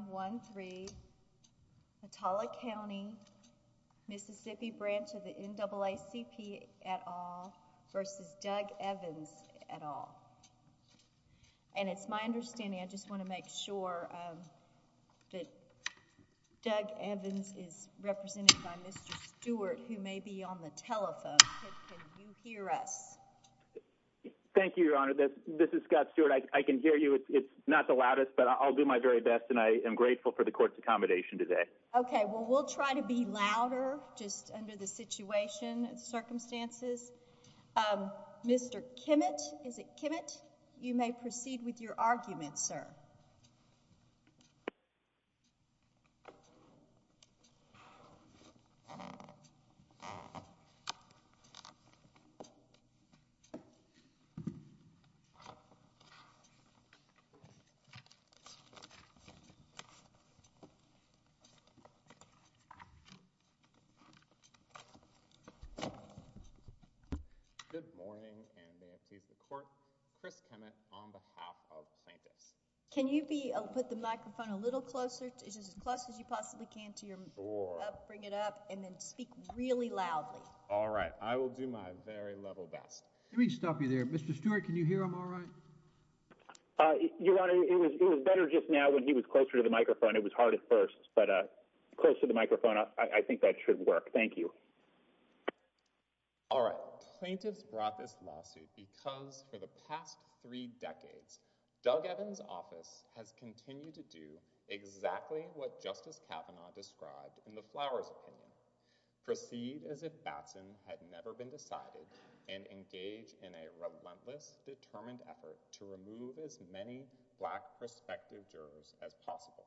I just want to make sure that Doug Evans is represented by Mr. Stewart who may be on the telephone. Can you hear us? Thank you, Your Honor. This is Scott Stewart. I can hear you. It's not the loudest, but I'll do my very best and I am grateful for the court's accommodation today. Okay. Well, we'll try to be louder just under the situation and circumstances. Mr. Kimmitt, is it Kimmitt? You may proceed with your argument, sir. Good morning, and may it please the court, Chris Kimmitt on behalf of plaintiffs. Can you put the microphone a little closer, just as close as you possibly can to your mouth? Sure. Bring it up and then speak really loudly. All right. I will do my very level best. Let me stop you there. Mr. Stewart, can you hear him all right? Your Honor, it was better just now when he was closer to the microphone. It was hard at first, but closer to the microphone, I think that should work. Thank you. All right. Plaintiffs brought this lawsuit because for the past three decades, Doug Evans' office has continued to do exactly what Justice Kavanaugh described in the Flowers' opinion. Proceed as if Batson had never been decided and engage in a reward-giving hearing. In fact, it was a relentless, determined effort to remove as many black prospective jurors as possible.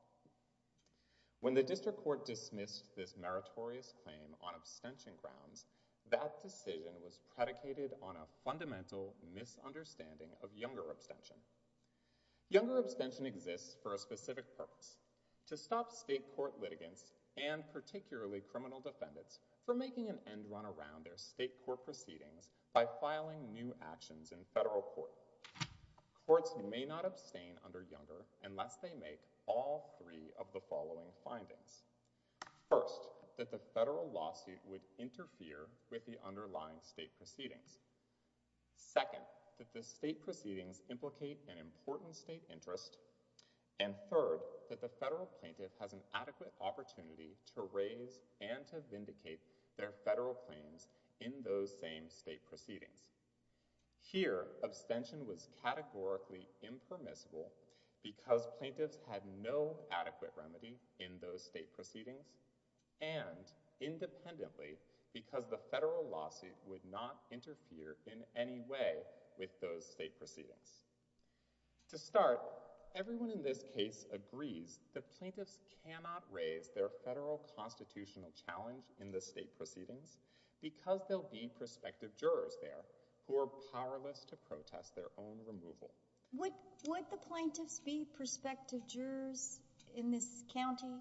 When the district court dismissed this meritorious claim on abstention grounds, that decision was predicated on a fundamental misunderstanding of younger abstention. Younger abstention exists for a specific purpose, to stop state court litigants and particularly criminal defendants from making an end run around their state court proceedings by filing new actions in federal court. Courts may not abstain under younger unless they make all three of the following findings. First, that the federal lawsuit would interfere with the underlying state proceedings. Second, that the state proceedings implicate an important state interest. And third, that the federal plaintiff has an adequate opportunity to raise and to vindicate their federal claims in those same state proceedings. Here, abstention was categorically impermissible because plaintiffs had no adequate remedy in those state proceedings and independently because the federal lawsuit would not interfere in any way with those state proceedings. To start, everyone in this case agrees that plaintiffs cannot raise their federal constitutional challenge in the state proceedings because there will be prospective jurors there who are powerless to protest their own removal. Would the plaintiffs be prospective jurors in this county?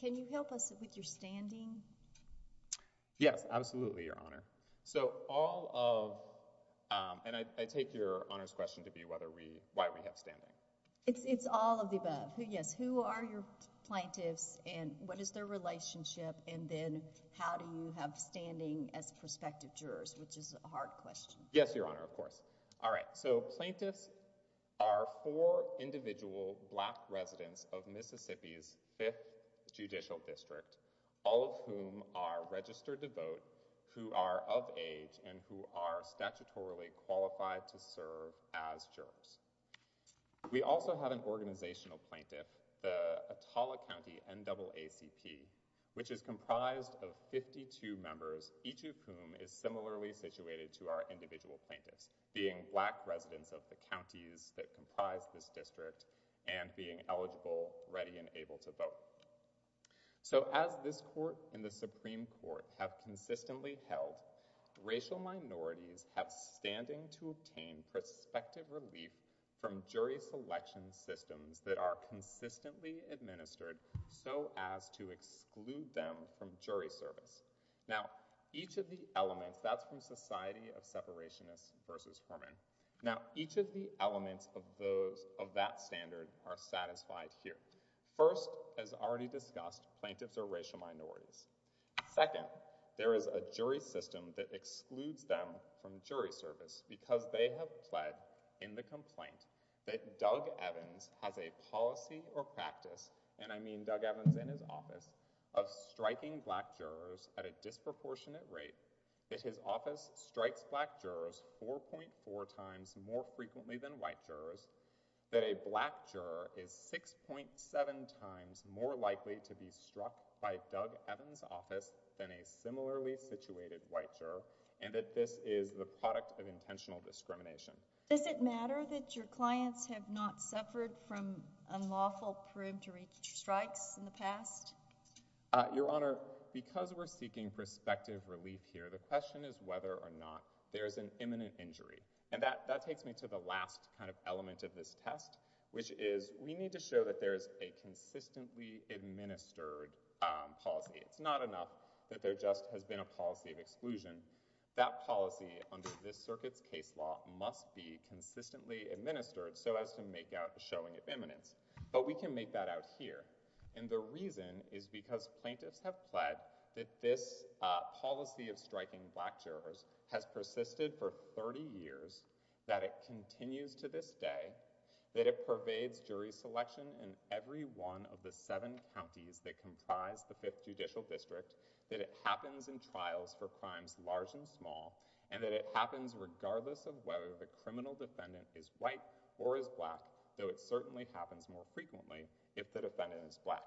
Can you help us with your standing? Yes, absolutely, Your Honor. So all of, and I take Your Honor's question to be why we have standing. It's all of the above. Yes, who are your plaintiffs and what is their relationship and then how do you have standing as prospective jurors, which is a hard question. Yes, Your Honor, of course. All right, so plaintiffs are four individual black residents of Mississippi's fifth judicial district, all of whom are registered to vote, who are of age and who are statutorily qualified to serve as jurors. We also have an organizational plaintiff, the Atolla County NAACP, which is comprised of 52 members, each of whom is similarly situated to our individual plaintiffs, being black residents of the counties that comprise this district and being eligible, ready, and able to vote. So as this court and the Supreme Court have consistently held, racial minorities have standing to obtain prospective relief from jury selection systems that are consistently administered so as to exclude them from jury service. Now each of the elements, that's from Society of Separationists versus Herman, now each of the elements of that standard are satisfied here. First, as already discussed, plaintiffs are racial minorities. Second, there is a jury system that excludes them from jury service because they have pled in the complaint that Doug Evans has a policy or practice, and I mean Doug Evans in his office, of striking black jurors at a disproportionate rate, that his office strikes black jurors 4.4 times more frequently than white jurors, that a black juror is 6.7 times more likely to be struck by Doug Evans' office than a similarly situated white juror, and that this is the product of intentional discrimination. Does it matter that your clients have not suffered from unlawful, proved to reach strikes in the past? Your Honor, because we're seeking prospective relief here, the question is whether or not there is an imminent injury, and that takes me to the last kind of element of this test, which is we need to show that there is a consistently administered policy. It's not enough that there just has been a policy of exclusion. That policy under this circuit's case law must be consistently administered so as to make out a showing of imminence, but we can make that out here, and the reason is because plaintiffs have pled that this policy of striking black jurors has persisted for 30 years, that it continues to this day, that it pervades jury selection in every one of the seven counties that comprise the Fifth Judicial District, that it happens in trials for crimes large and small, and that it happens regardless of whether the criminal defendant is white or is black, though it certainly happens more frequently if the defendant is black.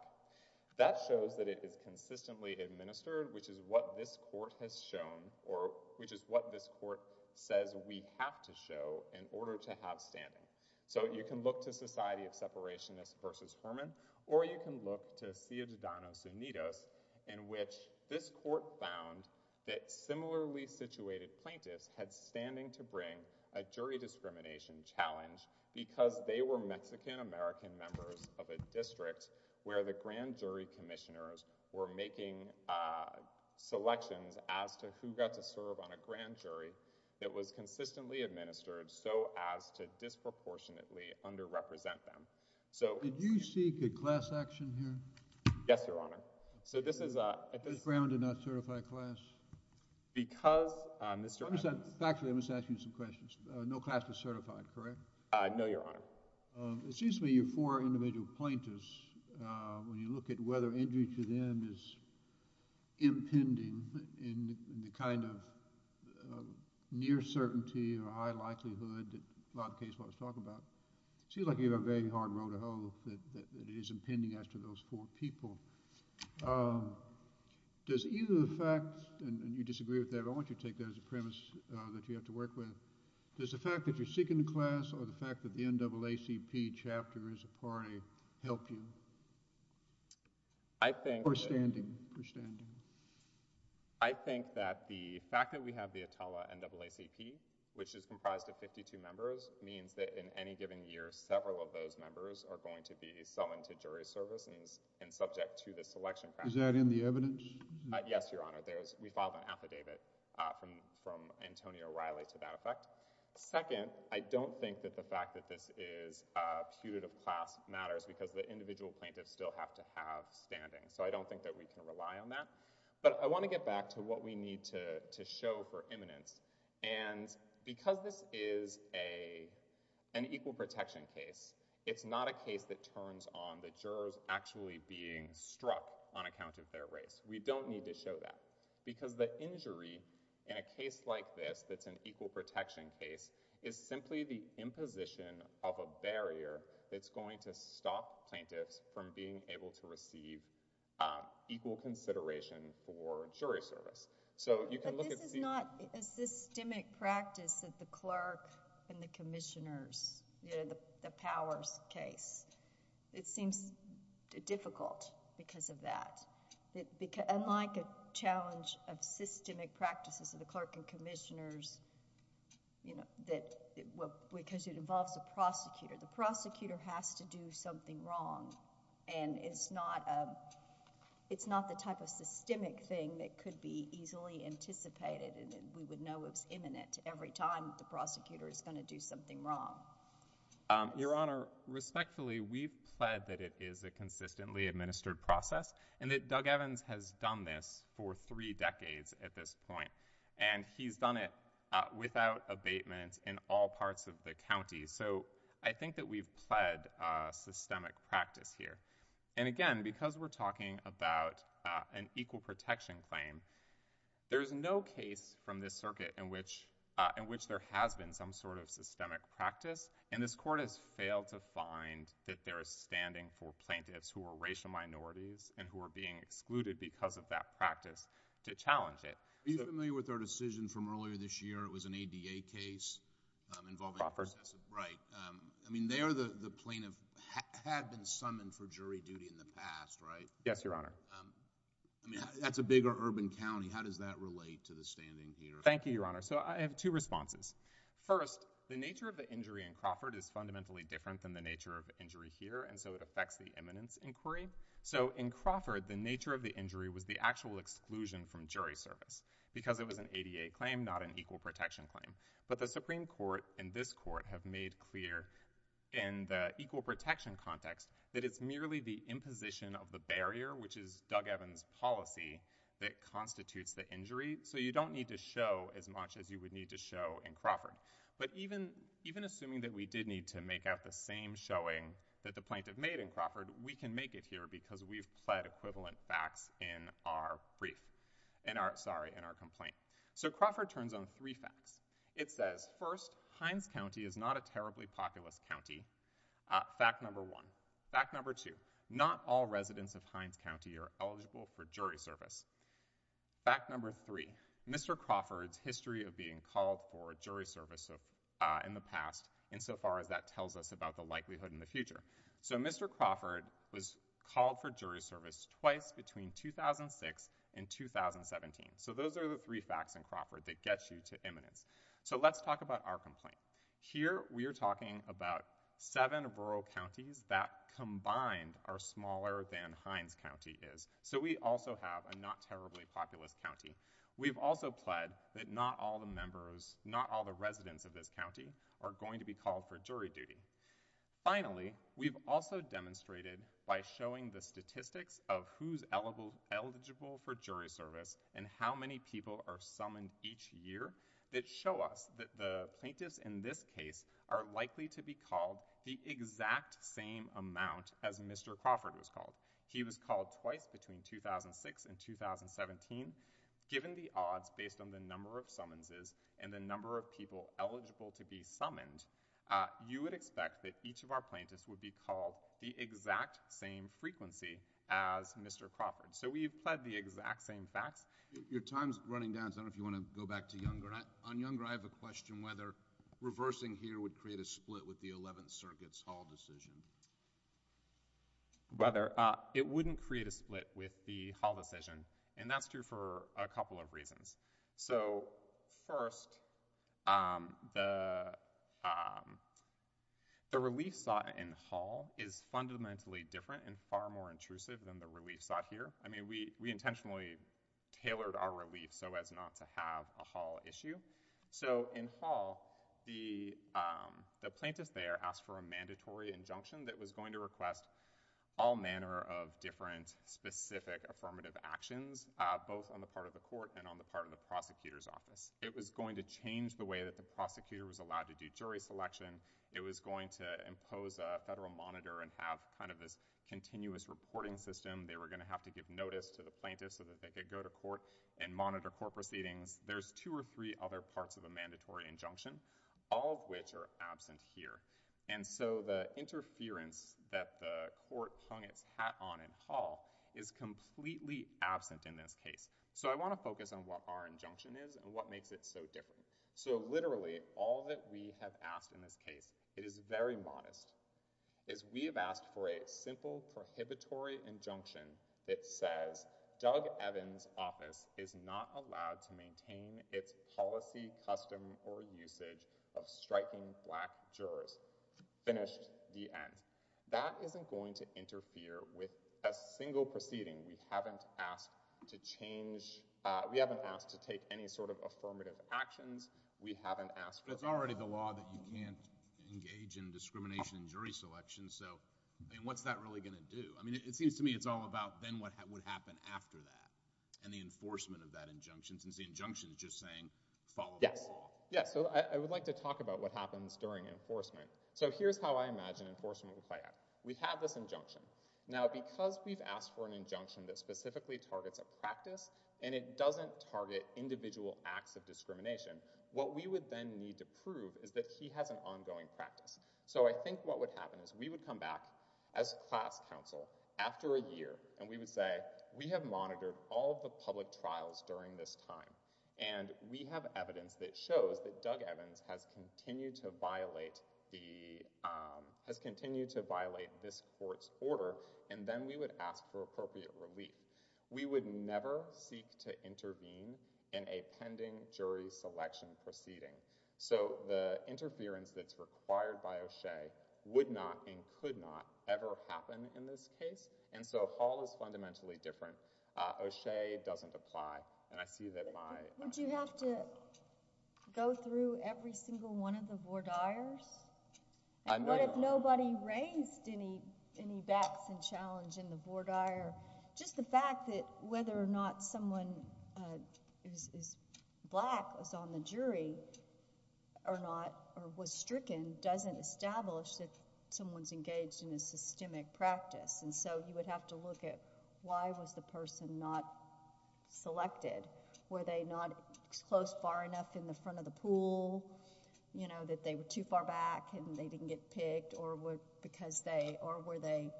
That shows that it is consistently administered, which is what this Court has shown, or which in order to have standing. So you can look to Society of Separationists versus Herman, or you can look to Ciudadanos Unidos, in which this Court found that similarly situated plaintiffs had standing to bring a jury discrimination challenge because they were Mexican-American members of a district where the grand jury commissioners were making selections as to who got to serve on a grand jury that was consistently administered so as to disproportionately under-represent them. So— Did you seek a class action here? Yes, Your Honor. So this is— Mr. Brown did not certify class? Because, Mr.— Actually, I must ask you some questions. No class was certified, correct? No, Your Honor. It seems to me your four individual plaintiffs, when you look at whether injury to them is a near certainty or a high likelihood, in a lot of cases what I was talking about, it seems like you have a very hard road to hoe that it is impending as to those four people. Does either the fact—and you disagree with that, but I want you to take that as a premise that you have to work with—does the fact that you're seeking a class or the fact that the NAACP chapter is a party help you? I think— Or standing? Or standing? I think that the fact that we have the Atala NAACP, which is comprised of 52 members, means that in any given year, several of those members are going to be summoned to jury service and subject to the selection— Is that in the evidence? Yes, Your Honor. We filed an affidavit from Antonio Riley to that effect. Second, I don't think that the fact that this is a putative class matters because the individual plaintiffs still have to have standing, so I don't think that we can rely on that. But I want to get back to what we need to show for eminence, and because this is an equal protection case, it's not a case that turns on the jurors actually being struck on account of their race. We don't need to show that, because the injury in a case like this that's an equal protection case is simply the imposition of a barrier that's going to stop plaintiffs from being able to receive equal consideration for jury service. So you can look at— But this is not a systemic practice that the clerk and the commissioners, the powers case, it seems difficult because of that, unlike a challenge of systemic practices of the clerk and commissioners, because it involves a prosecutor, the prosecutor has to do something wrong, and it's not the type of systemic thing that could be easily anticipated, and we would know it's imminent every time the prosecutor is going to do something wrong. Your Honor, respectfully, we've pled that it is a consistently administered process, and that Doug Evans has done this for three decades at this point, and he's done it without So I think that we've pled systemic practice here, and again, because we're talking about an equal protection claim, there's no case from this circuit in which there has been some sort of systemic practice, and this Court has failed to find that there is standing for plaintiffs who are racial minorities and who are being excluded because of that practice to challenge it. Are you familiar with our decision from earlier this year? It was an ADA case involving Professor Breit. I mean, there the plaintiff had been summoned for jury duty in the past, right? Yes, Your Honor. I mean, that's a bigger urban county. How does that relate to the standing here? Thank you, Your Honor. So I have two responses. First, the nature of the injury in Crawford is fundamentally different than the nature of the injury here, and so it affects the imminence inquiry. So in Crawford, the nature of the injury was the actual exclusion from jury service because it was an ADA claim, not an equal protection claim. But the Supreme Court and this Court have made clear in the equal protection context that it's merely the imposition of the barrier, which is Doug Evans' policy, that constitutes the injury. So you don't need to show as much as you would need to show in Crawford. But even assuming that we did need to make out the same showing that the plaintiff made in Crawford, we can make it here because we've pled equivalent facts in our brief, sorry, in our complaint. So Crawford turns on three facts. It says, first, Hines County is not a terribly populous county, fact number one. Fact number two, not all residents of Hines County are eligible for jury service. Fact number three, Mr. Crawford's history of being called for jury service in the past insofar as that tells us about the likelihood in the future. So Mr. Crawford was called for jury service twice between 2006 and 2017. So those are the three facts in Crawford that get you to eminence. So let's talk about our complaint. Here we are talking about seven rural counties that combined are smaller than Hines County is. So we also have a not terribly populous county. We've also pled that not all the members, not all the residents of this county are going to be called for jury duty. Finally, we've also demonstrated by showing the statistics of who's eligible for jury service and how many people are summoned each year that show us that the plaintiffs in this case are likely to be called the exact same amount as Mr. Crawford was called. He was called twice between 2006 and 2017. Given the odds based on the number of summonses and the number of people eligible to be summoned, you would expect that each of our plaintiffs would be called the exact same frequency as Mr. Crawford. So we've pled the exact same facts. Your time's running down, so I don't know if you want to go back to Younger. On Younger, I have a question whether reversing here would create a split with the 11th Circuit's Hall decision. Whether it wouldn't create a split with the Hall decision, and that's true for a couple of reasons. So first, the relief sought in Hall is fundamentally different and far more intrusive than the I mean, we intentionally tailored our relief so as not to have a Hall issue. So in Hall, the plaintiff there asked for a mandatory injunction that was going to request all manner of different specific affirmative actions, both on the part of the court and on the part of the prosecutor's office. It was going to change the way that the prosecutor was allowed to do jury selection. It was going to impose a federal monitor and have kind of this continuous reporting system. They were going to have to give notice to the plaintiff so that they could go to court and monitor court proceedings. There's two or three other parts of a mandatory injunction, all of which are absent here. And so the interference that the court hung its hat on in Hall is completely absent in this case. So I want to focus on what our injunction is and what makes it so different. So literally, all that we have asked in this case, it is very modest, is we have asked for a simple prohibitory injunction that says, Doug Evans' office is not allowed to maintain its policy, custom, or usage of striking black jurors. Finished. The end. That isn't going to interfere with a single proceeding. We haven't asked to change, we haven't asked to take any sort of affirmative actions. We haven't asked— But it's already the law that you can't engage in discrimination in jury selection. So, I mean, what's that really going to do? I mean, it seems to me it's all about then what would happen after that and the enforcement of that injunction, since the injunction is just saying, follow the law. Yes. So I would like to talk about what happens during enforcement. So here's how I imagine enforcement would play out. We have this injunction. Now, because we've asked for an injunction that specifically targets a practice and it doesn't target individual acts of discrimination, what we would then need to prove is that he has an ongoing practice. So I think what would happen is we would come back as class counsel after a year, and we would say, we have monitored all of the public trials during this time, and we have evidence that shows that Doug Evans has continued to violate this court's order, and then we would ask for appropriate relief. We would never seek to intervene in a pending jury selection proceeding. So the interference that's required by O'Shea would not and could not ever happen in this case. And so all is fundamentally different. O'Shea doesn't apply, and I see that my... Would you have to go through every single one of the voir dires, and what if nobody raised any backs and challenge in the voir dire? Just the fact that whether or not someone who is black was on the jury or was stricken doesn't establish that someone's engaged in a systemic practice. And so you would have to look at why was the person not selected. Were they not close far enough in the front of the pool, that they were too far back and they didn't get picked, or because they... or were they...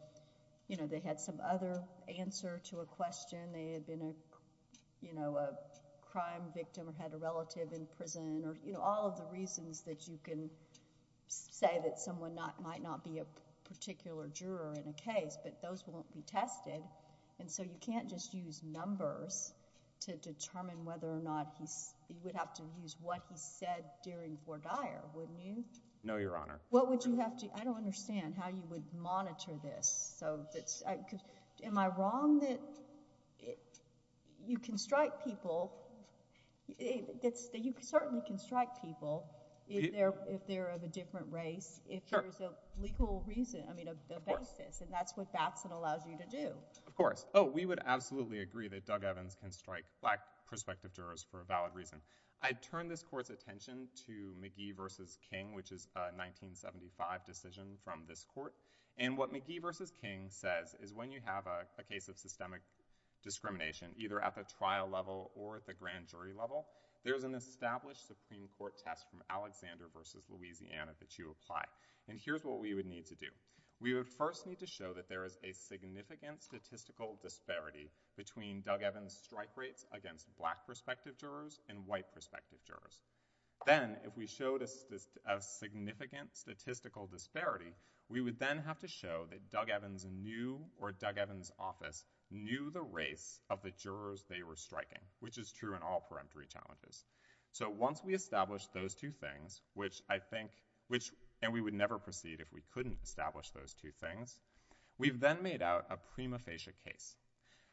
you know, they had some other answer to a question, they had been a, you know, a crime victim or had a relative in prison or, you know, all of the reasons that you can say that someone might not be a particular juror in a case, but those won't be tested. And so you can't just use numbers to determine whether or not he's... you would have to use what he said during voir dire, wouldn't you? No, Your Honor. What would you have to... I don't understand how you would monitor this, so that's... am I wrong that you can strike people... that you certainly can strike people if they're of a different race, if there's a legal reason, I mean, a basis, and that's what Batson allows you to do. Of course. Oh, we would absolutely agree that Doug Evans can strike black prospective jurors for a valid reason. I turn this Court's attention to McGee v. King, which is a 1975 decision from this Court, and what McGee v. King says is when you have a case of systemic discrimination, either at the trial level or at the grand jury level, there's an established Supreme Court test from Alexander v. Louisiana that you apply, and here's what we would need to do. We would first need to show that there is a significant statistical disparity between Doug Evans' strike rates against black prospective jurors and white prospective jurors. Then, if we showed a significant statistical disparity, we would then have to show that Doug Evans knew, or Doug Evans' office knew the race of the jurors they were striking, which is true in all peremptory challenges. So once we establish those two things, which I think... and we would never proceed if we couldn't establish those two things, we've then made out a prima facie case.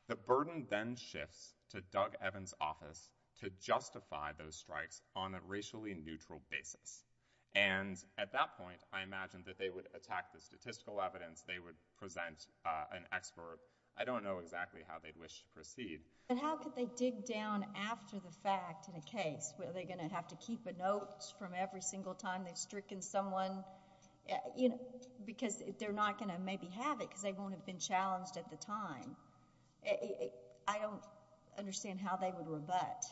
The burden then shifts to Doug Evans' office to justify those strikes on a racially neutral basis, and at that point, I imagine that they would attack the statistical evidence, they would present an expert. I don't know exactly how they'd wish to proceed. But how could they dig down after the fact in a case? Are they going to have to keep a note from every single time they've stricken someone? Because they're not going to maybe have it, because they won't have been challenged at the time. I don't understand how they would rebut.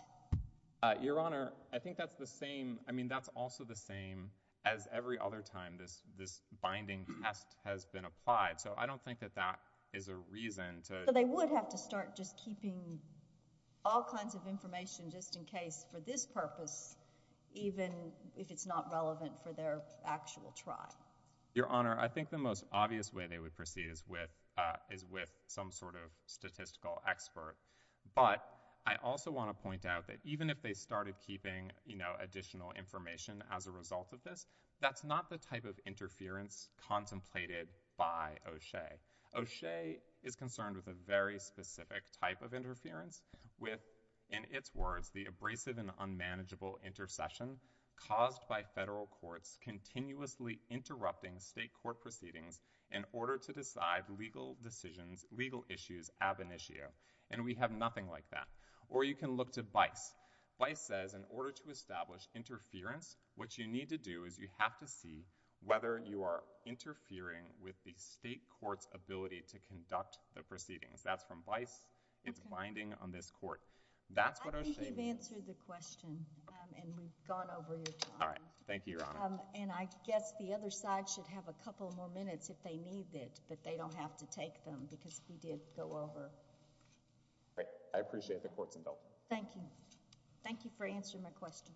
Your Honor, I think that's the same... I mean, that's also the same as every other time this binding test has been applied. So I don't think that that is a reason to... But they would have to start just keeping all kinds of information just in case for this purpose, even if it's not relevant for their actual try. Your Honor, I think the most obvious way they would proceed is with some sort of statistical expert, but I also want to point out that even if they started keeping additional information as a result of this, that's not the type of interference contemplated by O'Shea. O'Shea is concerned with a very specific type of interference with, in its words, the abrasive and unmanageable intercession caused by federal courts continuously interrupting state court proceedings in order to decide legal decisions, legal issues, ab initio. And we have nothing like that. Or you can look to BICE. BICE says in order to establish interference, what you need to do is you have to see whether you are interfering with the state court's ability to conduct the proceedings. That's from BICE. It's binding on this court. I think you've answered the question, and we've gone over your time. All right. Thank you, Your Honor. And I guess the other side should have a couple more minutes if they need it, but they don't have to take them because we did go over. Great. I appreciate the court's indulgence. Thank you. Thank you for answering my questions.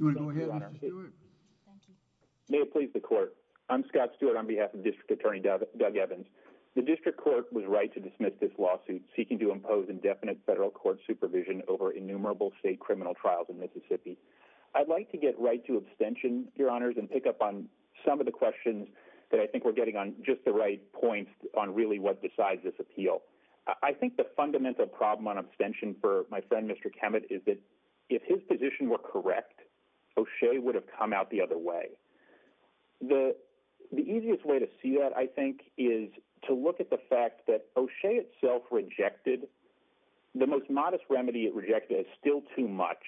Do you want to go ahead, Mr. Stewart? I'm Scott Stewart. I'm here on behalf of the U.S. Supreme Court. I'm Scott Stewart on behalf of District Attorney Doug Evans. The district court was right to dismiss this lawsuit seeking to impose indefinite federal court supervision over innumerable state criminal trials in Mississippi. I'd like to get right to abstention, Your Honors, and pick up on some of the questions that I think we're getting on just the right points on really what decides this appeal. I think the fundamental problem on abstention for my friend, Mr. Kemet, is that if his position were correct, O'Shea would have come out the other way. The easiest way to see that, I think, is to look at the fact that O'Shea itself rejected — the most modest remedy it rejected is still too much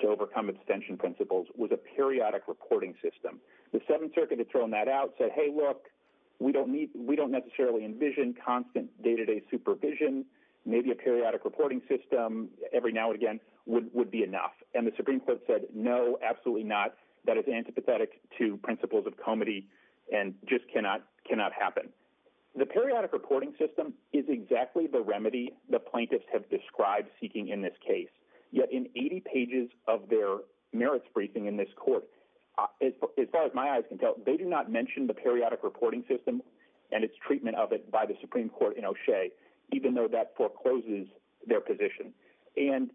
to overcome abstention principles — was a periodic reporting system. The Seventh Circuit had thrown that out, said, hey, look, we don't necessarily envision constant day-to-day supervision. Maybe a periodic reporting system every now and again would be enough. And the Supreme Court said, no, absolutely not. That is antipathetic to principles of comity and just cannot happen. The periodic reporting system is exactly the remedy the plaintiffs have described seeking in this case. Yet in 80 pages of their merits briefing in this court, as far as my eyes can tell, they do not mention the periodic reporting system and its treatment of it by the Supreme Court in O'Shea, even though that forecloses their position. And,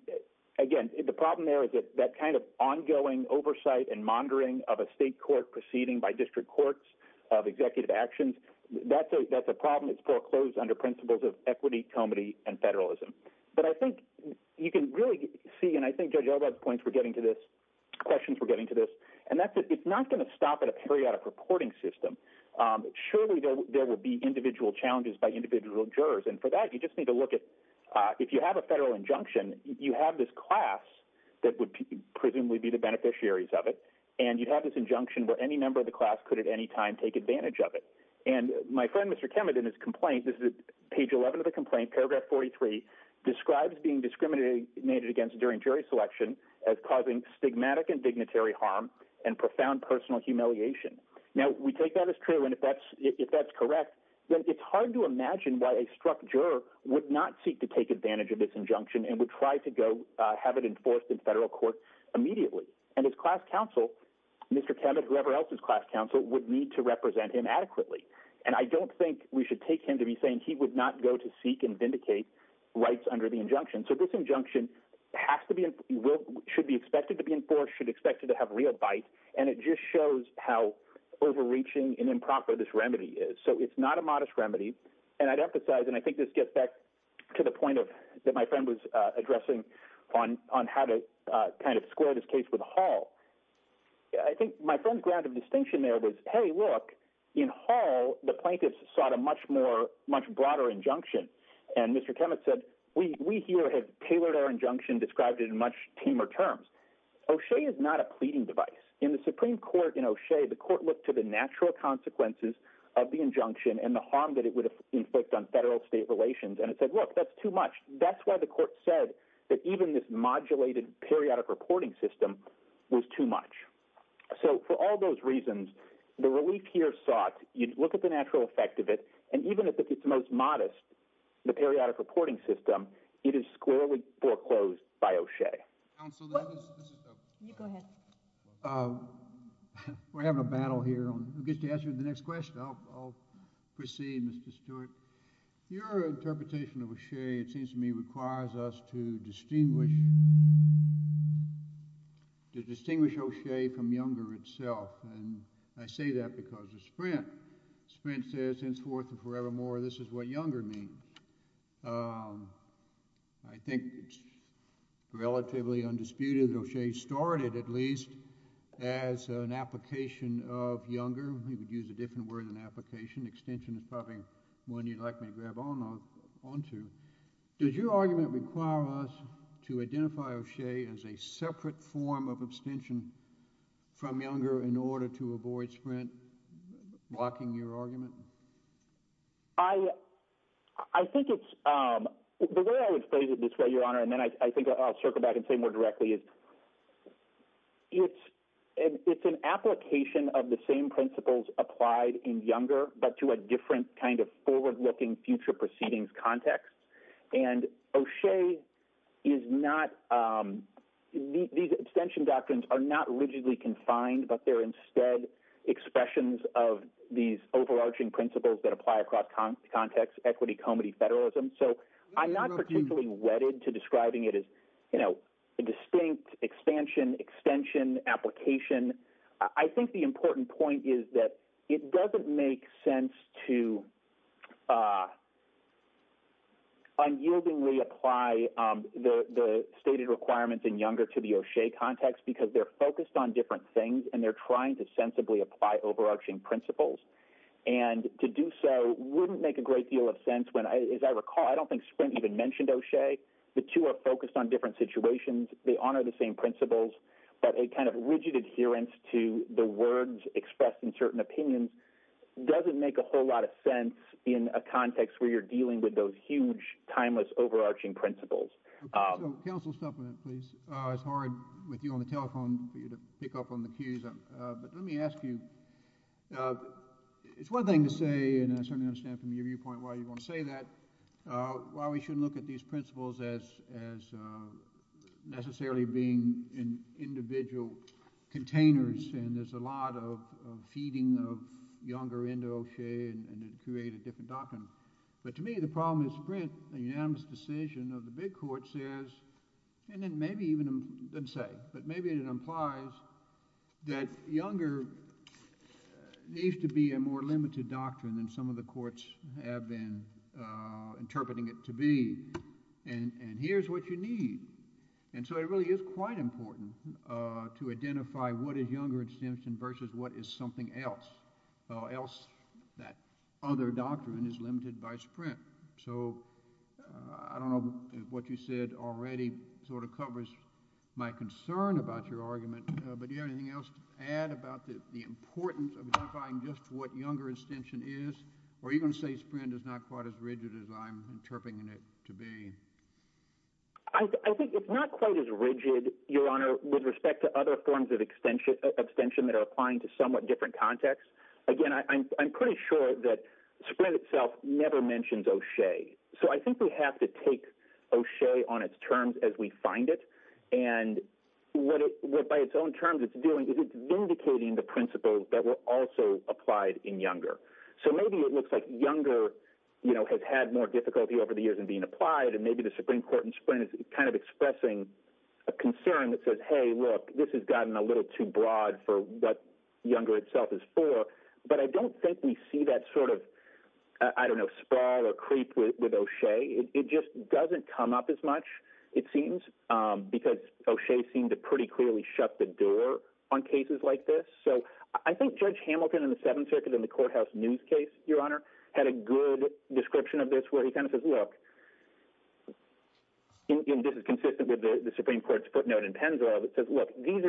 again, the problem there is that kind of ongoing oversight and monitoring of a state court proceeding by district courts of executive actions, that's a problem that's foreclosed under principles of equity, comity, and federalism. But I think you can really see — and I think Judge Elba's points were getting to this — questions were getting to this — and that's — it's not going to stop at a periodic reporting system. Surely, there will be individual challenges by individual jurors, and for that, you just have a federal injunction, you have this class that would presumably be the beneficiaries of it, and you have this injunction where any member of the class could at any time take advantage of it. And my friend, Mr. Kemet, in his complaint — this is page 11 of the complaint, paragraph 43 — describes being discriminated against during jury selection as causing stigmatic and dignitary harm and profound personal humiliation. Now, we take that as true, and if that's — if that's correct, then it's hard to imagine why a struck juror would not seek to take advantage of this injunction and would try to go have it enforced in federal court immediately. And his class counsel, Mr. Kemet, whoever else's class counsel, would need to represent him adequately. And I don't think we should take him to be saying he would not go to seek and vindicate rights under the injunction. So this injunction has to be — should be expected to be enforced, should be expected to have real bite, and it just shows how overreaching and improper this remedy is. So it's not a modest remedy. And I'd emphasize — and I think this gets back to the point of — that my friend was addressing on how to kind of square this case with Hall. I think my friend's ground of distinction there was, hey, look, in Hall, the plaintiffs sought a much more — much broader injunction. And Mr. Kemet said, we here have tailored our injunction, described it in much teamer terms. O'Shea is not a pleading device. In the Supreme Court, in O'Shea, the court looked to the natural consequences of the injunction and the harm that it would inflict on federal-state relations, and it said, look, that's too much. That's why the court said that even this modulated periodic reporting system was too much. So for all those reasons, the relief here sought — you look at the natural effect of it, and even if it gets the most modest, the periodic reporting system, it is squarely foreclosed by O'Shea. Counsel, that is — You go ahead. We're having a battle here. Who gets to answer the next question? I'll proceed, Mr. Stewart. Your interpretation of O'Shea, it seems to me, requires us to distinguish — to distinguish O'Shea from Younger itself, and I say that because of Sprint. Sprint says, henceforth and forevermore, this is what Younger means. I think, relatively undisputed, O'Shea started, at least, as an application of Younger. You could use a different word than application. Extension is probably one you'd like me to grab onto. Does your argument require us to identify O'Shea as a separate form of abstention from Younger in order to avoid Sprint blocking your argument? I think it's — the way I would phrase it this way, Your Honor, and then I think I'll circle back and say more directly, is it's an application of the same principles applied in Younger, but to a different kind of forward-looking future proceedings context. And O'Shea is not — these abstention doctrines are not rigidly confined, but they're instead expressions of these overarching principles that apply across context — equity, comity, federalism. So I'm not particularly wedded to describing it as, you know, a distinct extension, extension, application. I think the important point is that it doesn't make sense to unyieldingly apply the stated requirements in Younger to the O'Shea context because they're focused on different things and they're trying to sensibly apply overarching principles. And to do so wouldn't make a great deal of sense when — as I recall, I don't think Sprint even mentioned O'Shea. The two are focused on different situations. They honor the same principles. But a kind of rigid adherence to the words expressed in certain opinions doesn't make a whole lot of sense in a context where you're dealing with those huge, timeless, overarching principles. Counsel, stop on that, please. It's hard with you on the telephone for you to pick up on the cues. But let me ask you — it's one thing to say, and I certainly understand from your viewpoint why you want to say that, why we shouldn't look at these principles as necessarily being in individual containers and there's a lot of feeding of Younger into O'Shea and it'd create a different doctrine. But to me, the problem is Sprint, a unanimous decision of the big court, says — and then maybe even — it doesn't say, but maybe it implies that Younger needs to be a more limited doctrine than some of the courts have been interpreting it to be. And here's what you need. And so it really is quite important to identify what is Younger extension versus what is something else, or else that other doctrine is limited by Sprint. So I don't know what you said already sort of covers my concern about your argument, but do you have anything else to add about the importance of identifying just what Younger extension is? Or are you going to say Sprint is not quite as rigid as I'm interpreting it to be? I think it's not quite as rigid, Your Honor, with respect to other forms of extension that are applying to somewhat different contexts. Again, I'm pretty sure that Sprint itself never mentions O'Shea. So I think we have to take O'Shea on its terms as we find it. And what by its own terms it's doing is it's vindicating the principles that were also applied in Younger. So maybe it looks like Younger has had more difficulty over the years in being applied and maybe the Supreme Court in Sprint is kind of expressing a concern that says, hey, look, this has gotten a little too broad for what Younger itself is for. But I don't think we see that sort of, I don't know, sprawl or creep with O'Shea. It just doesn't come up as much, it seems, because O'Shea seemed to pretty clearly shut the door on cases like this. So I think Judge Hamilton in the Seventh Circuit in the courthouse news case, Your Honor, had a good description of this where he kind of says, look, and this is consistent with the Supreme Court's footnote in Penzo, it says, look, these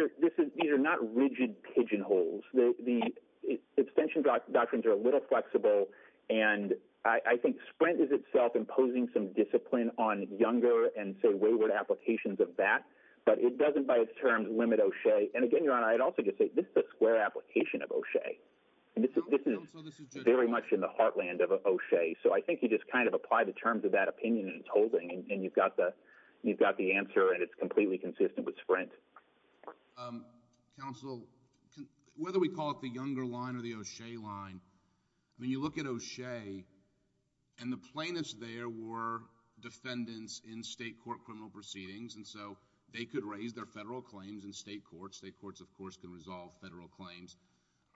are not rigid pigeonholes. The extension doctrines are a little flexible. And I think Sprint is itself imposing some discipline on Younger and say wayward applications of that. But it doesn't by its terms limit O'Shea. And again, Your Honor, I'd also just say this is a square application of O'Shea. This is very much in the heartland of O'Shea. So I think you just kind of apply the terms of that opinion in its holding and you've got the answer and it's completely consistent with Sprint. Counsel, whether we call it the Younger line or the O'Shea line, when you look at O'Shea and the plaintiffs there were defendants in state court criminal proceedings and so they could raise their federal claims in state courts. State courts, of course, can resolve federal claims.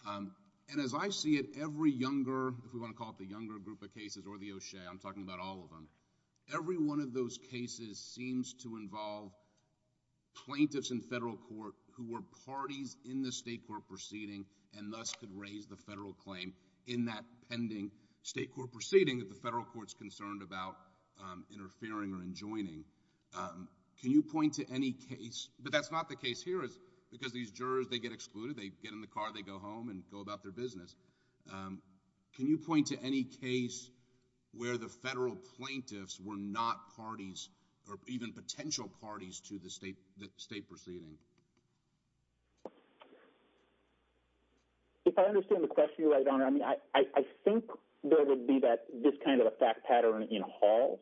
And as I see it, every Younger, if we want to call it the Younger group of cases or the Younger cases, seems to involve plaintiffs in federal court who were parties in the state court proceeding and thus could raise the federal claim in that pending state court proceeding that the federal court is concerned about interfering or enjoining. Can you point to any case, but that's not the case here because these jurors, they get excluded, they get in the car, they go home and go about their business. Can you point to any case where the federal plaintiffs were not parties or even potential parties to the state proceeding? If I understand the question, Your Honor, I think there would be this kind of a fact pattern in Hall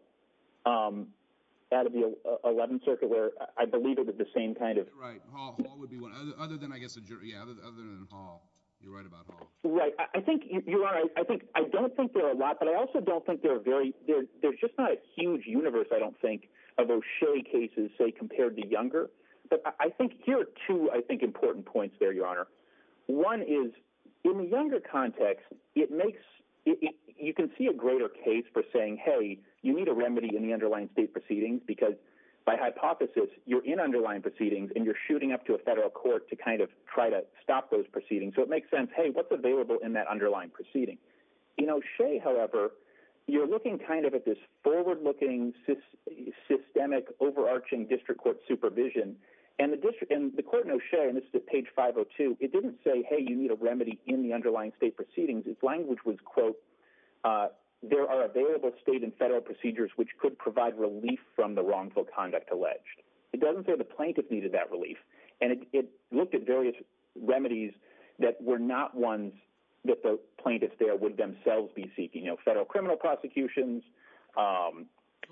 out of the 11th Circuit where I believe it would be the same kind of… Right, Hall would be one. Other than, I guess, a jury. Yeah, other than Hall. You're right about Hall. Right. I think, Your Honor, I don't think there are a lot, but I also don't think there are very… There's just not a huge universe, I don't think, of those Shirley cases, say, compared to Younger. But I think here are two, I think, important points there, Your Honor. One is, in the Younger context, it makes… You can see a greater case for saying, hey, you need a remedy in the underlying state proceedings because, by hypothesis, you're in underlying proceedings and you're shooting up to a federal court to kind of try to stop those proceedings. So it makes sense, hey, what's available in that underlying proceeding? In O'Shea, however, you're looking kind of at this forward-looking, systemic, overarching district court supervision, and the court in O'Shea, and this is at page 502, it didn't say, hey, you need a remedy in the underlying state proceedings. Its language was, quote, there are available state and federal procedures which could provide relief from the wrongful conduct alleged. It doesn't say the plaintiff needed that relief. And it looked at various remedies that were not ones that the plaintiff there would themselves be seeking. You know, federal criminal prosecutions,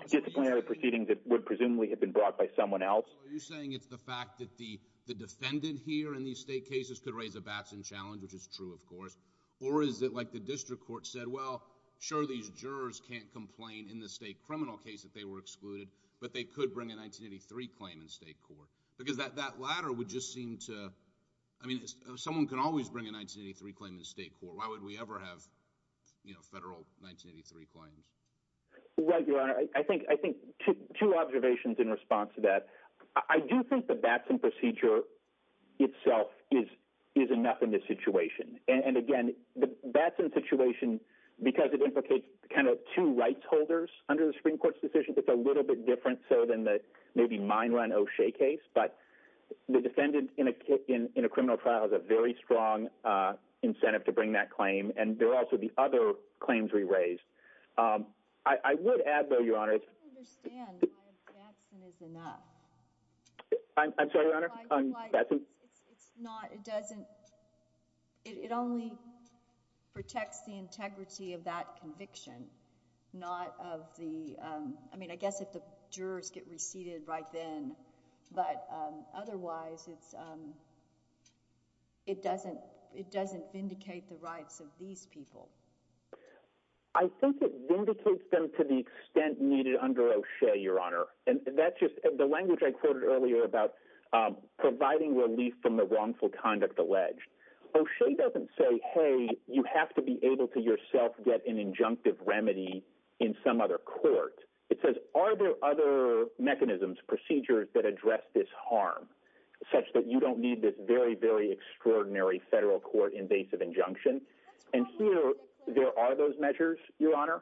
disciplinary proceedings that would presumably have been brought by someone else. So are you saying it's the fact that the defendant here in these state cases could raise a Batson challenge, which is true, of course, or is it like the district court said, well, sure, these jurors can't complain in the state criminal case that they were excluded, but they could bring a 1983 claim in state court? Because that latter would just seem to, I mean, someone can always bring a 1983 claim in state court. Why would we ever have, you know, federal 1983 claims? Right, Your Honor. I think two observations in response to that. I do think the Batson procedure itself is enough in this situation. And again, the Batson situation, because it implicates kind of two rights holders under the Supreme Court's decision, it's a little bit different so than maybe mine run O'Shea case, but the defendant in a criminal trial has a very strong incentive to bring that claim. And there are also the other claims we raised. I would add, though, Your Honor. I don't understand why a Batson is enough. I'm sorry, Your Honor? It's not, it doesn't, it only protects the integrity of that conviction, not of the, I mean, I guess if the jurors get receded right then, but otherwise it's, it doesn't vindicate the rights of these people. I think it vindicates them to the extent needed under O'Shea, Your Honor. And that's just, the language I quoted earlier about providing relief from the wrongful conduct alleged. O'Shea doesn't say, hey, you have to be able to yourself get an injunctive remedy in some other court. It says, are there other mechanisms, procedures that address this harm such that you don't need this very, very extraordinary federal court invasive injunction? And here there are those measures, Your Honor,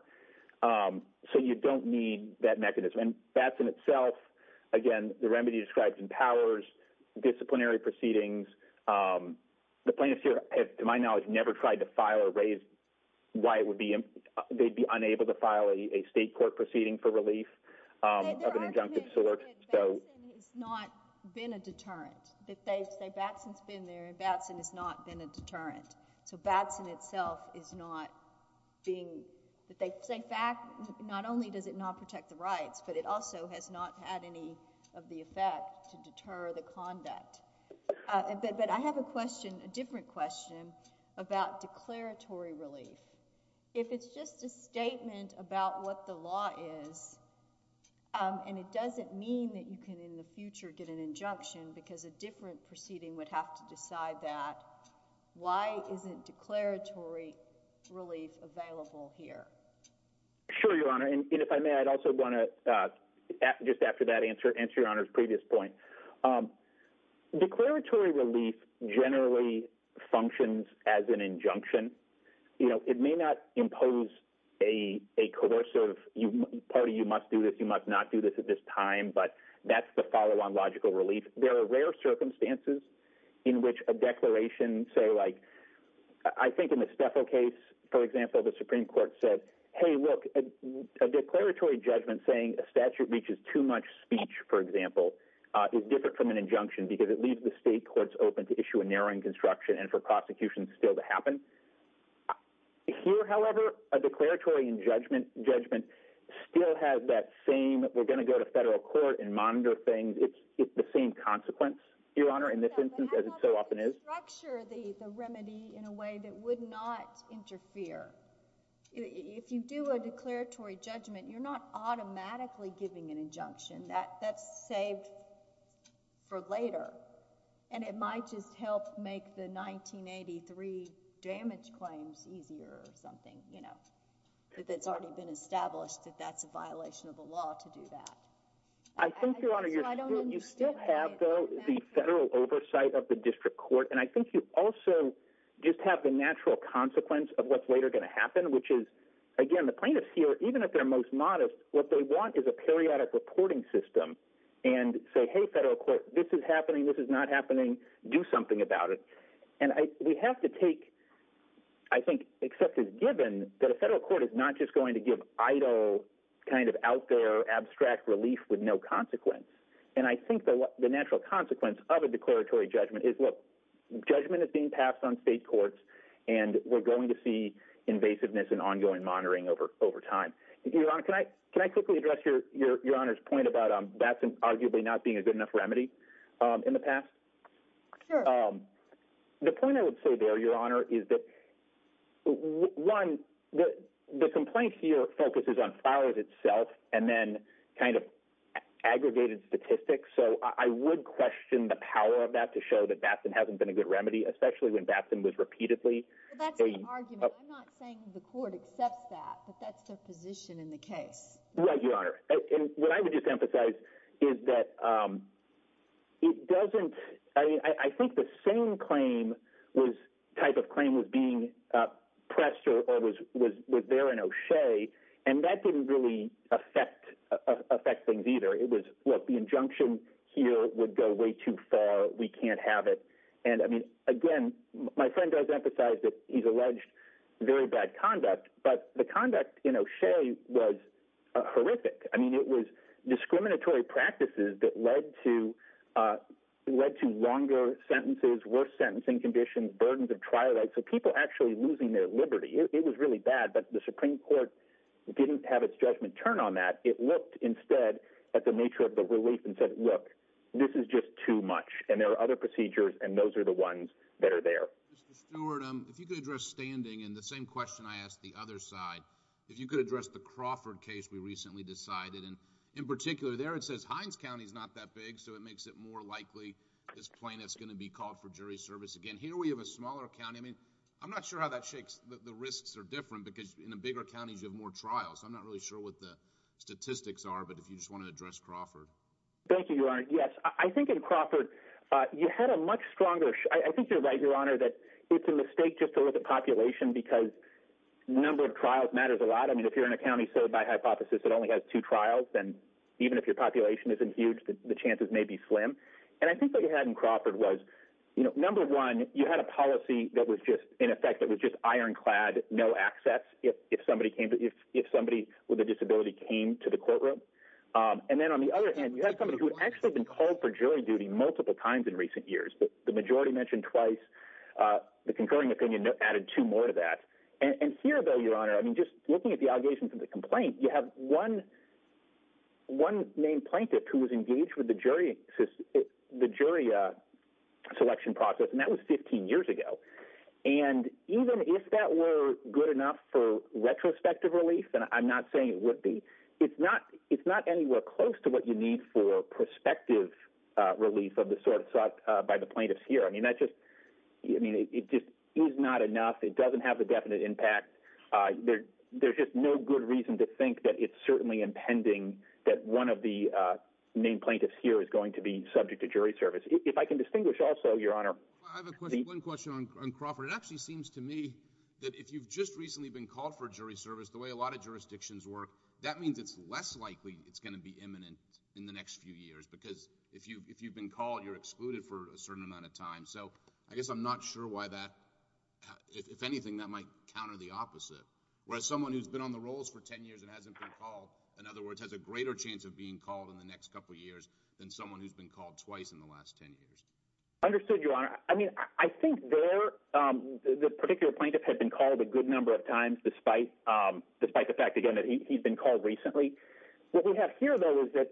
so you don't need that mechanism. And Batson itself, again, the remedy describes empowers disciplinary proceedings. The plaintiffs here, to my knowledge, never tried to file or raise why it would be, they'd be unable to file a state court proceeding for relief of an injunctive sort, so. And their argument is that Batson has not been a deterrent. That they say Batson's been there and Batson has not been a deterrent. So Batson itself is not being, that they say not only does it not protect the rights, but it also has not had any of the effect to deter the conduct. But I have a question, a different question, about declaratory relief. If it's just a statement about what the law is, and it doesn't mean that you can in the future get an injunction because a different proceeding would have to decide that, why isn't declaratory relief available here? Sure, Your Honor. And if I may, I'd also want to, just after that answer, answer Your Honor's previous point. Declaratory relief generally functions as an injunction. You know, it may not impose a coercive, pardon me, you must do this, you must not do this at this time, but that's the follow-on logical relief. There are rare circumstances in which a declaration, so like, I think in the Steffel case, for example, hey look, a declaratory judgment saying a statute reaches too much speech, for example, is different from an injunction because it leaves the state courts open to issue a narrowing construction and for prosecution still to happen. Here, however, a declaratory judgment still has that same, we're going to go to federal court and monitor things, it's the same consequence, Your Honor, in this instance as it so often is. But if you structure the remedy in a way that would not interfere, if you do a declaratory judgment, you're not automatically giving an injunction, that's saved for later and it might just help make the 1983 damage claims easier or something, you know, if it's already been established that that's a violation of the law to do that. I think, Your Honor, you still have, though, the federal oversight of the district court and I think you also just have the natural consequence of what's later going to happen, which is, again, the plaintiffs here, even if they're most modest, what they want is a periodic reporting system and say, hey federal court, this is happening, this is not happening, do something about it. And we have to take, I think, except as given, that a federal court is not just going to give idle, kind of out there, abstract relief with no consequence. And I think the natural consequence of a declaratory judgment is, look, judgment is being passed on state courts and we're going to see invasiveness and ongoing monitoring over time. Your Honor, can I quickly address Your Honor's point about that arguably not being a good enough remedy in the past? Sure. The point I would say there, Your Honor, is that, one, the complaint here focuses on files itself and then kind of aggregated statistics. So I would question the power of that to show that Batson hasn't been a good remedy, especially when Batson was repeatedly… Well, that's the argument. I'm not saying the court accepts that, but that's their position in the case. Right, Your Honor. And what I would just emphasize is that it doesn't… I think the same type of claim was being pressed or was there in O'Shea, and that didn't really affect things either. It was, look, the injunction here would go way too far. We can't have it. And, I mean, again, my friend does emphasize that he's alleged very bad conduct, but the I mean, it was discriminatory practices that led to longer sentences, worse sentencing conditions, burdens of trial, so people actually losing their liberty. It was really bad, but the Supreme Court didn't have its judgment turned on that. It looked instead at the nature of the relief and said, look, this is just too much, and there are other procedures, and those are the ones that are there. Mr. Stewart, if you could address standing, and the same question I asked the other side, if you could address the Crawford case we recently decided, and in particular there it says Hines County's not that big, so it makes it more likely this plaintiff's going to be called for jury service again. Here we have a smaller county. I mean, I'm not sure how that shakes. The risks are different because in the bigger counties you have more trials. I'm not really sure what the statistics are, but if you just want to address Crawford. Thank you, Your Honor. Yes, I think in Crawford you had a much stronger… I think you're right, Your Honor, that it's a mistake just to look at population because the number of trials matters a lot. I mean, if you're in a county served by hypothesis that only has two trials, then even if your population isn't huge, the chances may be slim. And I think what you had in Crawford was, number one, you had a policy that was just in effect that was just ironclad, no access if somebody with a disability came to the courtroom. And then on the other hand, you had somebody who had actually been called for jury duty multiple times in recent years. The majority mentioned twice. The concurring opinion added two more to that. And here, though, Your Honor, I mean, just looking at the allegations of the complaint, you have one main plaintiff who was engaged with the jury selection process, and that was 15 years ago. And even if that were good enough for retrospective relief, and I'm not saying it would be, it's not anywhere close to what you need for prospective relief of the sort sought by the plaintiffs here. I mean, that's just, I mean, it just is not enough. It doesn't have a definite impact. There's just no good reason to think that it's certainly impending that one of the main plaintiffs here is going to be subject to jury service. If I can distinguish also, Your Honor. I have one question on Crawford. It actually seems to me that if you've just recently been called for jury service, the way a lot of jurisdictions work, that means it's less likely it's going to be imminent in the next few years, because if you've been called, you're excluded for a certain amount of time. So I guess I'm not sure why that, if anything, that might counter the opposite, whereas someone who's been on the rolls for 10 years and hasn't been called, in other words, has a greater chance of being called in the next couple years than someone who's been called twice in the last 10 years. Understood, Your Honor. I mean, I think there, the particular plaintiff had been called a good number of times, despite the fact, again, that he's been called recently. What we have here, though, is that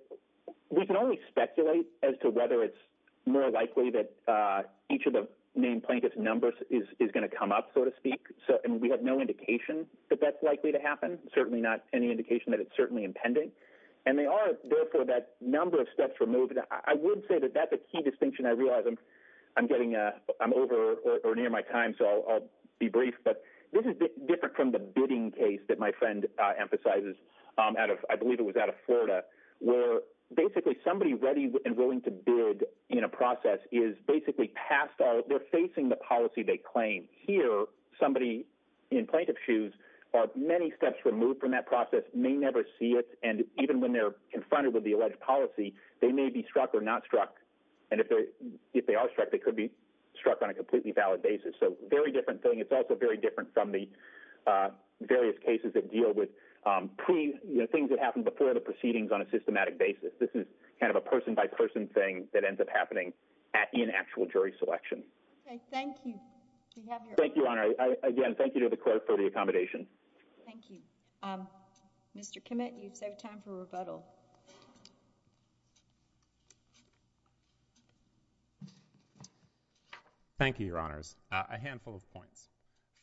we can only speculate as to whether it's more likely that each of the named plaintiff's numbers is going to come up, so to speak, and we have no indication that that's likely to happen, certainly not any indication that it's certainly impending. And they are, therefore, that number of steps removed. I would say that that's a key distinction. I realize I'm getting, I'm over or near my time, so I'll be brief, but this is different from the bidding case that my friend emphasizes out of, I believe it was out of Florida, where basically somebody ready and willing to bid in a process is basically past all, they're facing the policy they claim. Here, somebody in plaintiff's shoes are many steps removed from that process, may never see it, and even when they're confronted with the alleged policy, they may be struck or not struck. And if they are struck, they could be struck on a completely valid basis. So very different thing. It's also very different from the various cases that deal with pre, you know, things that happen before the proceedings on a systematic basis. This is kind of a person-by-person thing that ends up happening in actual jury selection. Okay. Thank you. We have your... Thank you, Your Honor. Again, thank you to the court for the accommodation. Thank you. Mr. Kimmitt, you've saved time for rebuttal. Thank you, Your Honors. A handful of points.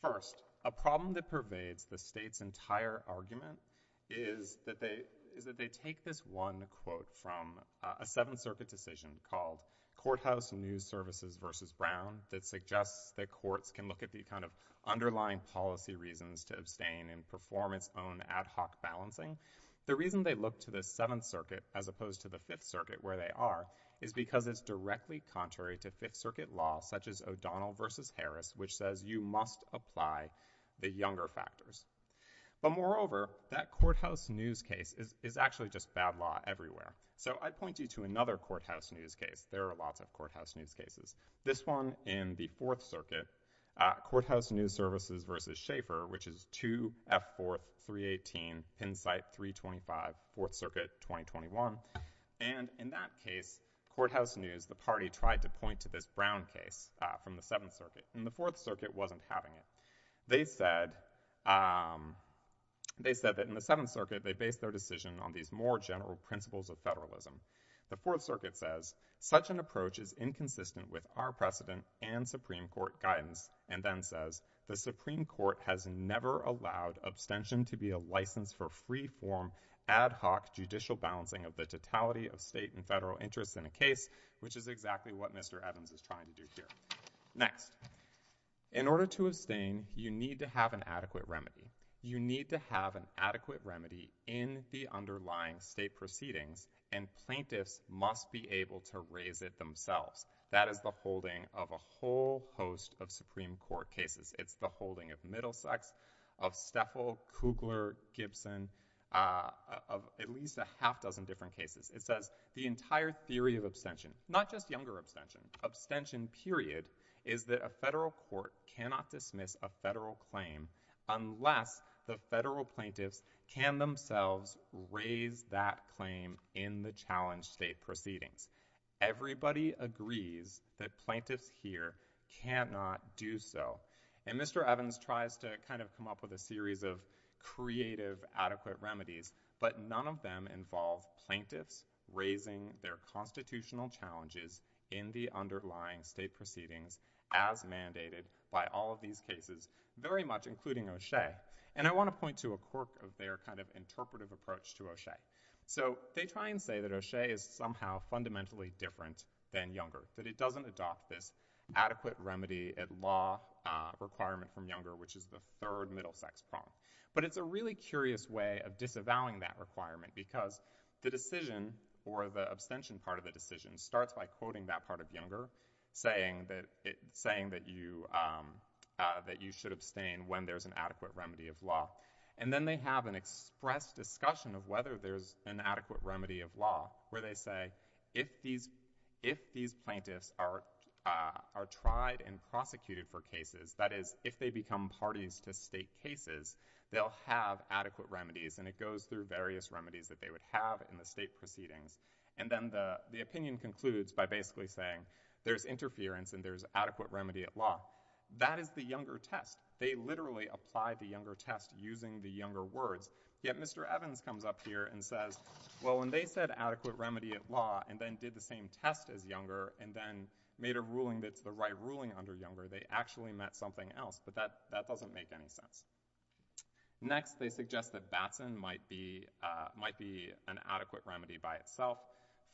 First, a problem that pervades the state's entire argument is that they take this one quote from a Seventh Circuit decision called Courthouse News Services v. Brown that suggests that courts can look at the kind of underlying policy reasons to abstain and perform its own ad hoc balancing. The reason they look to the Seventh Circuit as opposed to the Fifth Circuit where they are is because it's directly contrary to Fifth Circuit law, such as O'Donnell v. Harris, which says you must apply the younger factors. But moreover, that Courthouse News case is actually just bad law everywhere. So, I'd point you to another Courthouse News case. There are lots of Courthouse News cases. This one in the Fourth Circuit, Courthouse News Services v. Schaeffer, which is 2F4-318 Pennsite 325, Fourth Circuit, 2021. And in that case, Courthouse News, the party tried to point to this Brown case from the Fourth Circuit wasn't having it. They said that in the Seventh Circuit they based their decision on these more general principles of federalism. The Fourth Circuit says, such an approach is inconsistent with our precedent and Supreme Court guidance, and then says, the Supreme Court has never allowed abstention to be a license for free-form ad hoc judicial balancing of the totality of state and federal interests in a case, which is exactly what Mr. Evans is trying to do here. Next, in order to abstain, you need to have an adequate remedy. You need to have an adequate remedy in the underlying state proceedings, and plaintiffs must be able to raise it themselves. That is the holding of a whole host of Supreme Court cases. It's the holding of Middlesex, of Stefel, Kugler, Gibson, of at least a half-dozen different cases. It says, the entire theory of abstention, not just younger abstention, abstention period, is that a federal court cannot dismiss a federal claim unless the federal plaintiffs can themselves raise that claim in the challenged state proceedings. Everybody agrees that plaintiffs here cannot do so, and Mr. Evans tries to kind of come up with a series of creative, adequate remedies, but none of them involve plaintiffs raising their constitutional challenges in the underlying state proceedings as mandated by all of these cases, very much including O'Shea. And I want to point to a quirk of their kind of interpretive approach to O'Shea. So, they try and say that O'Shea is somehow fundamentally different than Younger, that it doesn't adopt this adequate remedy at law requirement from Younger, which is the third Middlesex prompt. But it's a really curious way of disavowing that requirement, because the decision, or the abstention part of the decision, starts by quoting that part of Younger, saying that you should abstain when there's an adequate remedy of law. And then they have an express discussion of whether there's an adequate remedy of law, where they say, if these plaintiffs are tried and prosecuted for cases, that is, if they become parties to state cases, they'll have adequate remedies. And it goes through various remedies that they would have in the state proceedings. And then the opinion concludes by basically saying, there's interference and there's adequate remedy at law. That is the Younger test. They literally apply the Younger test using the Younger words. Yet Mr. Evans comes up here and says, well, when they said adequate remedy at law, and then did the same test as Younger, and then made a ruling that's the right ruling under Younger, they actually meant something else. But that doesn't make any sense. Next, they suggest that Batson might be an adequate remedy by itself.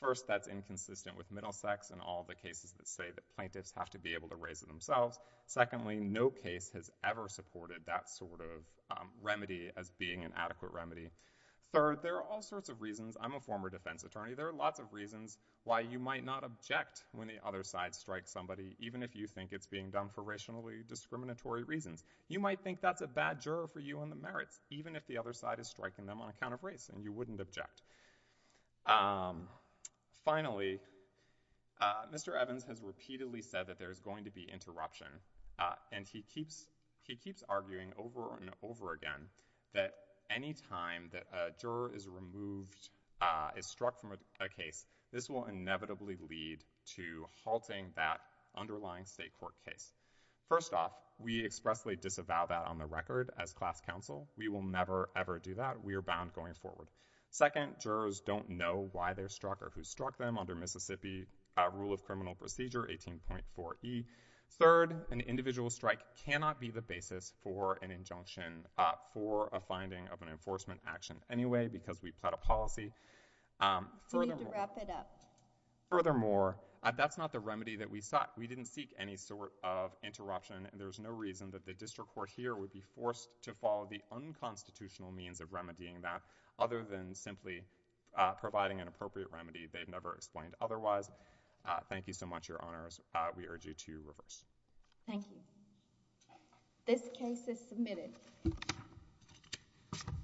First, that's inconsistent with Middlesex and all the cases that say that plaintiffs have to be able to raise it themselves. Secondly, no case has ever supported that sort of remedy as being an adequate remedy. Third, there are all sorts of reasons. I'm a former defense attorney. There are lots of reasons why you might not object when the other side strikes somebody, even if you think it's being done for racially discriminatory reasons. You might think that's a bad juror for you on the merits, even if the other side is striking them on account of race. And you wouldn't object. Finally, Mr. Evans has repeatedly said that there's going to be interruption. And he keeps arguing over and over again that any time that a juror is removed, is struck from a case, this will inevitably lead to halting that underlying state court case. First off, we expressly disavow that on the record as class counsel. We will never, ever do that. We are bound going forward. Second, jurors don't know why they're struck or who struck them under Mississippi Rule of Criminal Procedure 18.4E. Third, an individual strike cannot be the basis for an injunction, for a finding of an enforcement action anyway, because we plot a policy. We need to wrap it up. Furthermore, that's not the remedy that we sought. We didn't seek any sort of interruption. And there's no reason that the district court here would be forced to follow the unconstitutional means of remedying that, other than simply providing an appropriate remedy. They've never explained otherwise. Thank you so much, Your Honors. We urge you to reverse. Thank you. This case is submitted.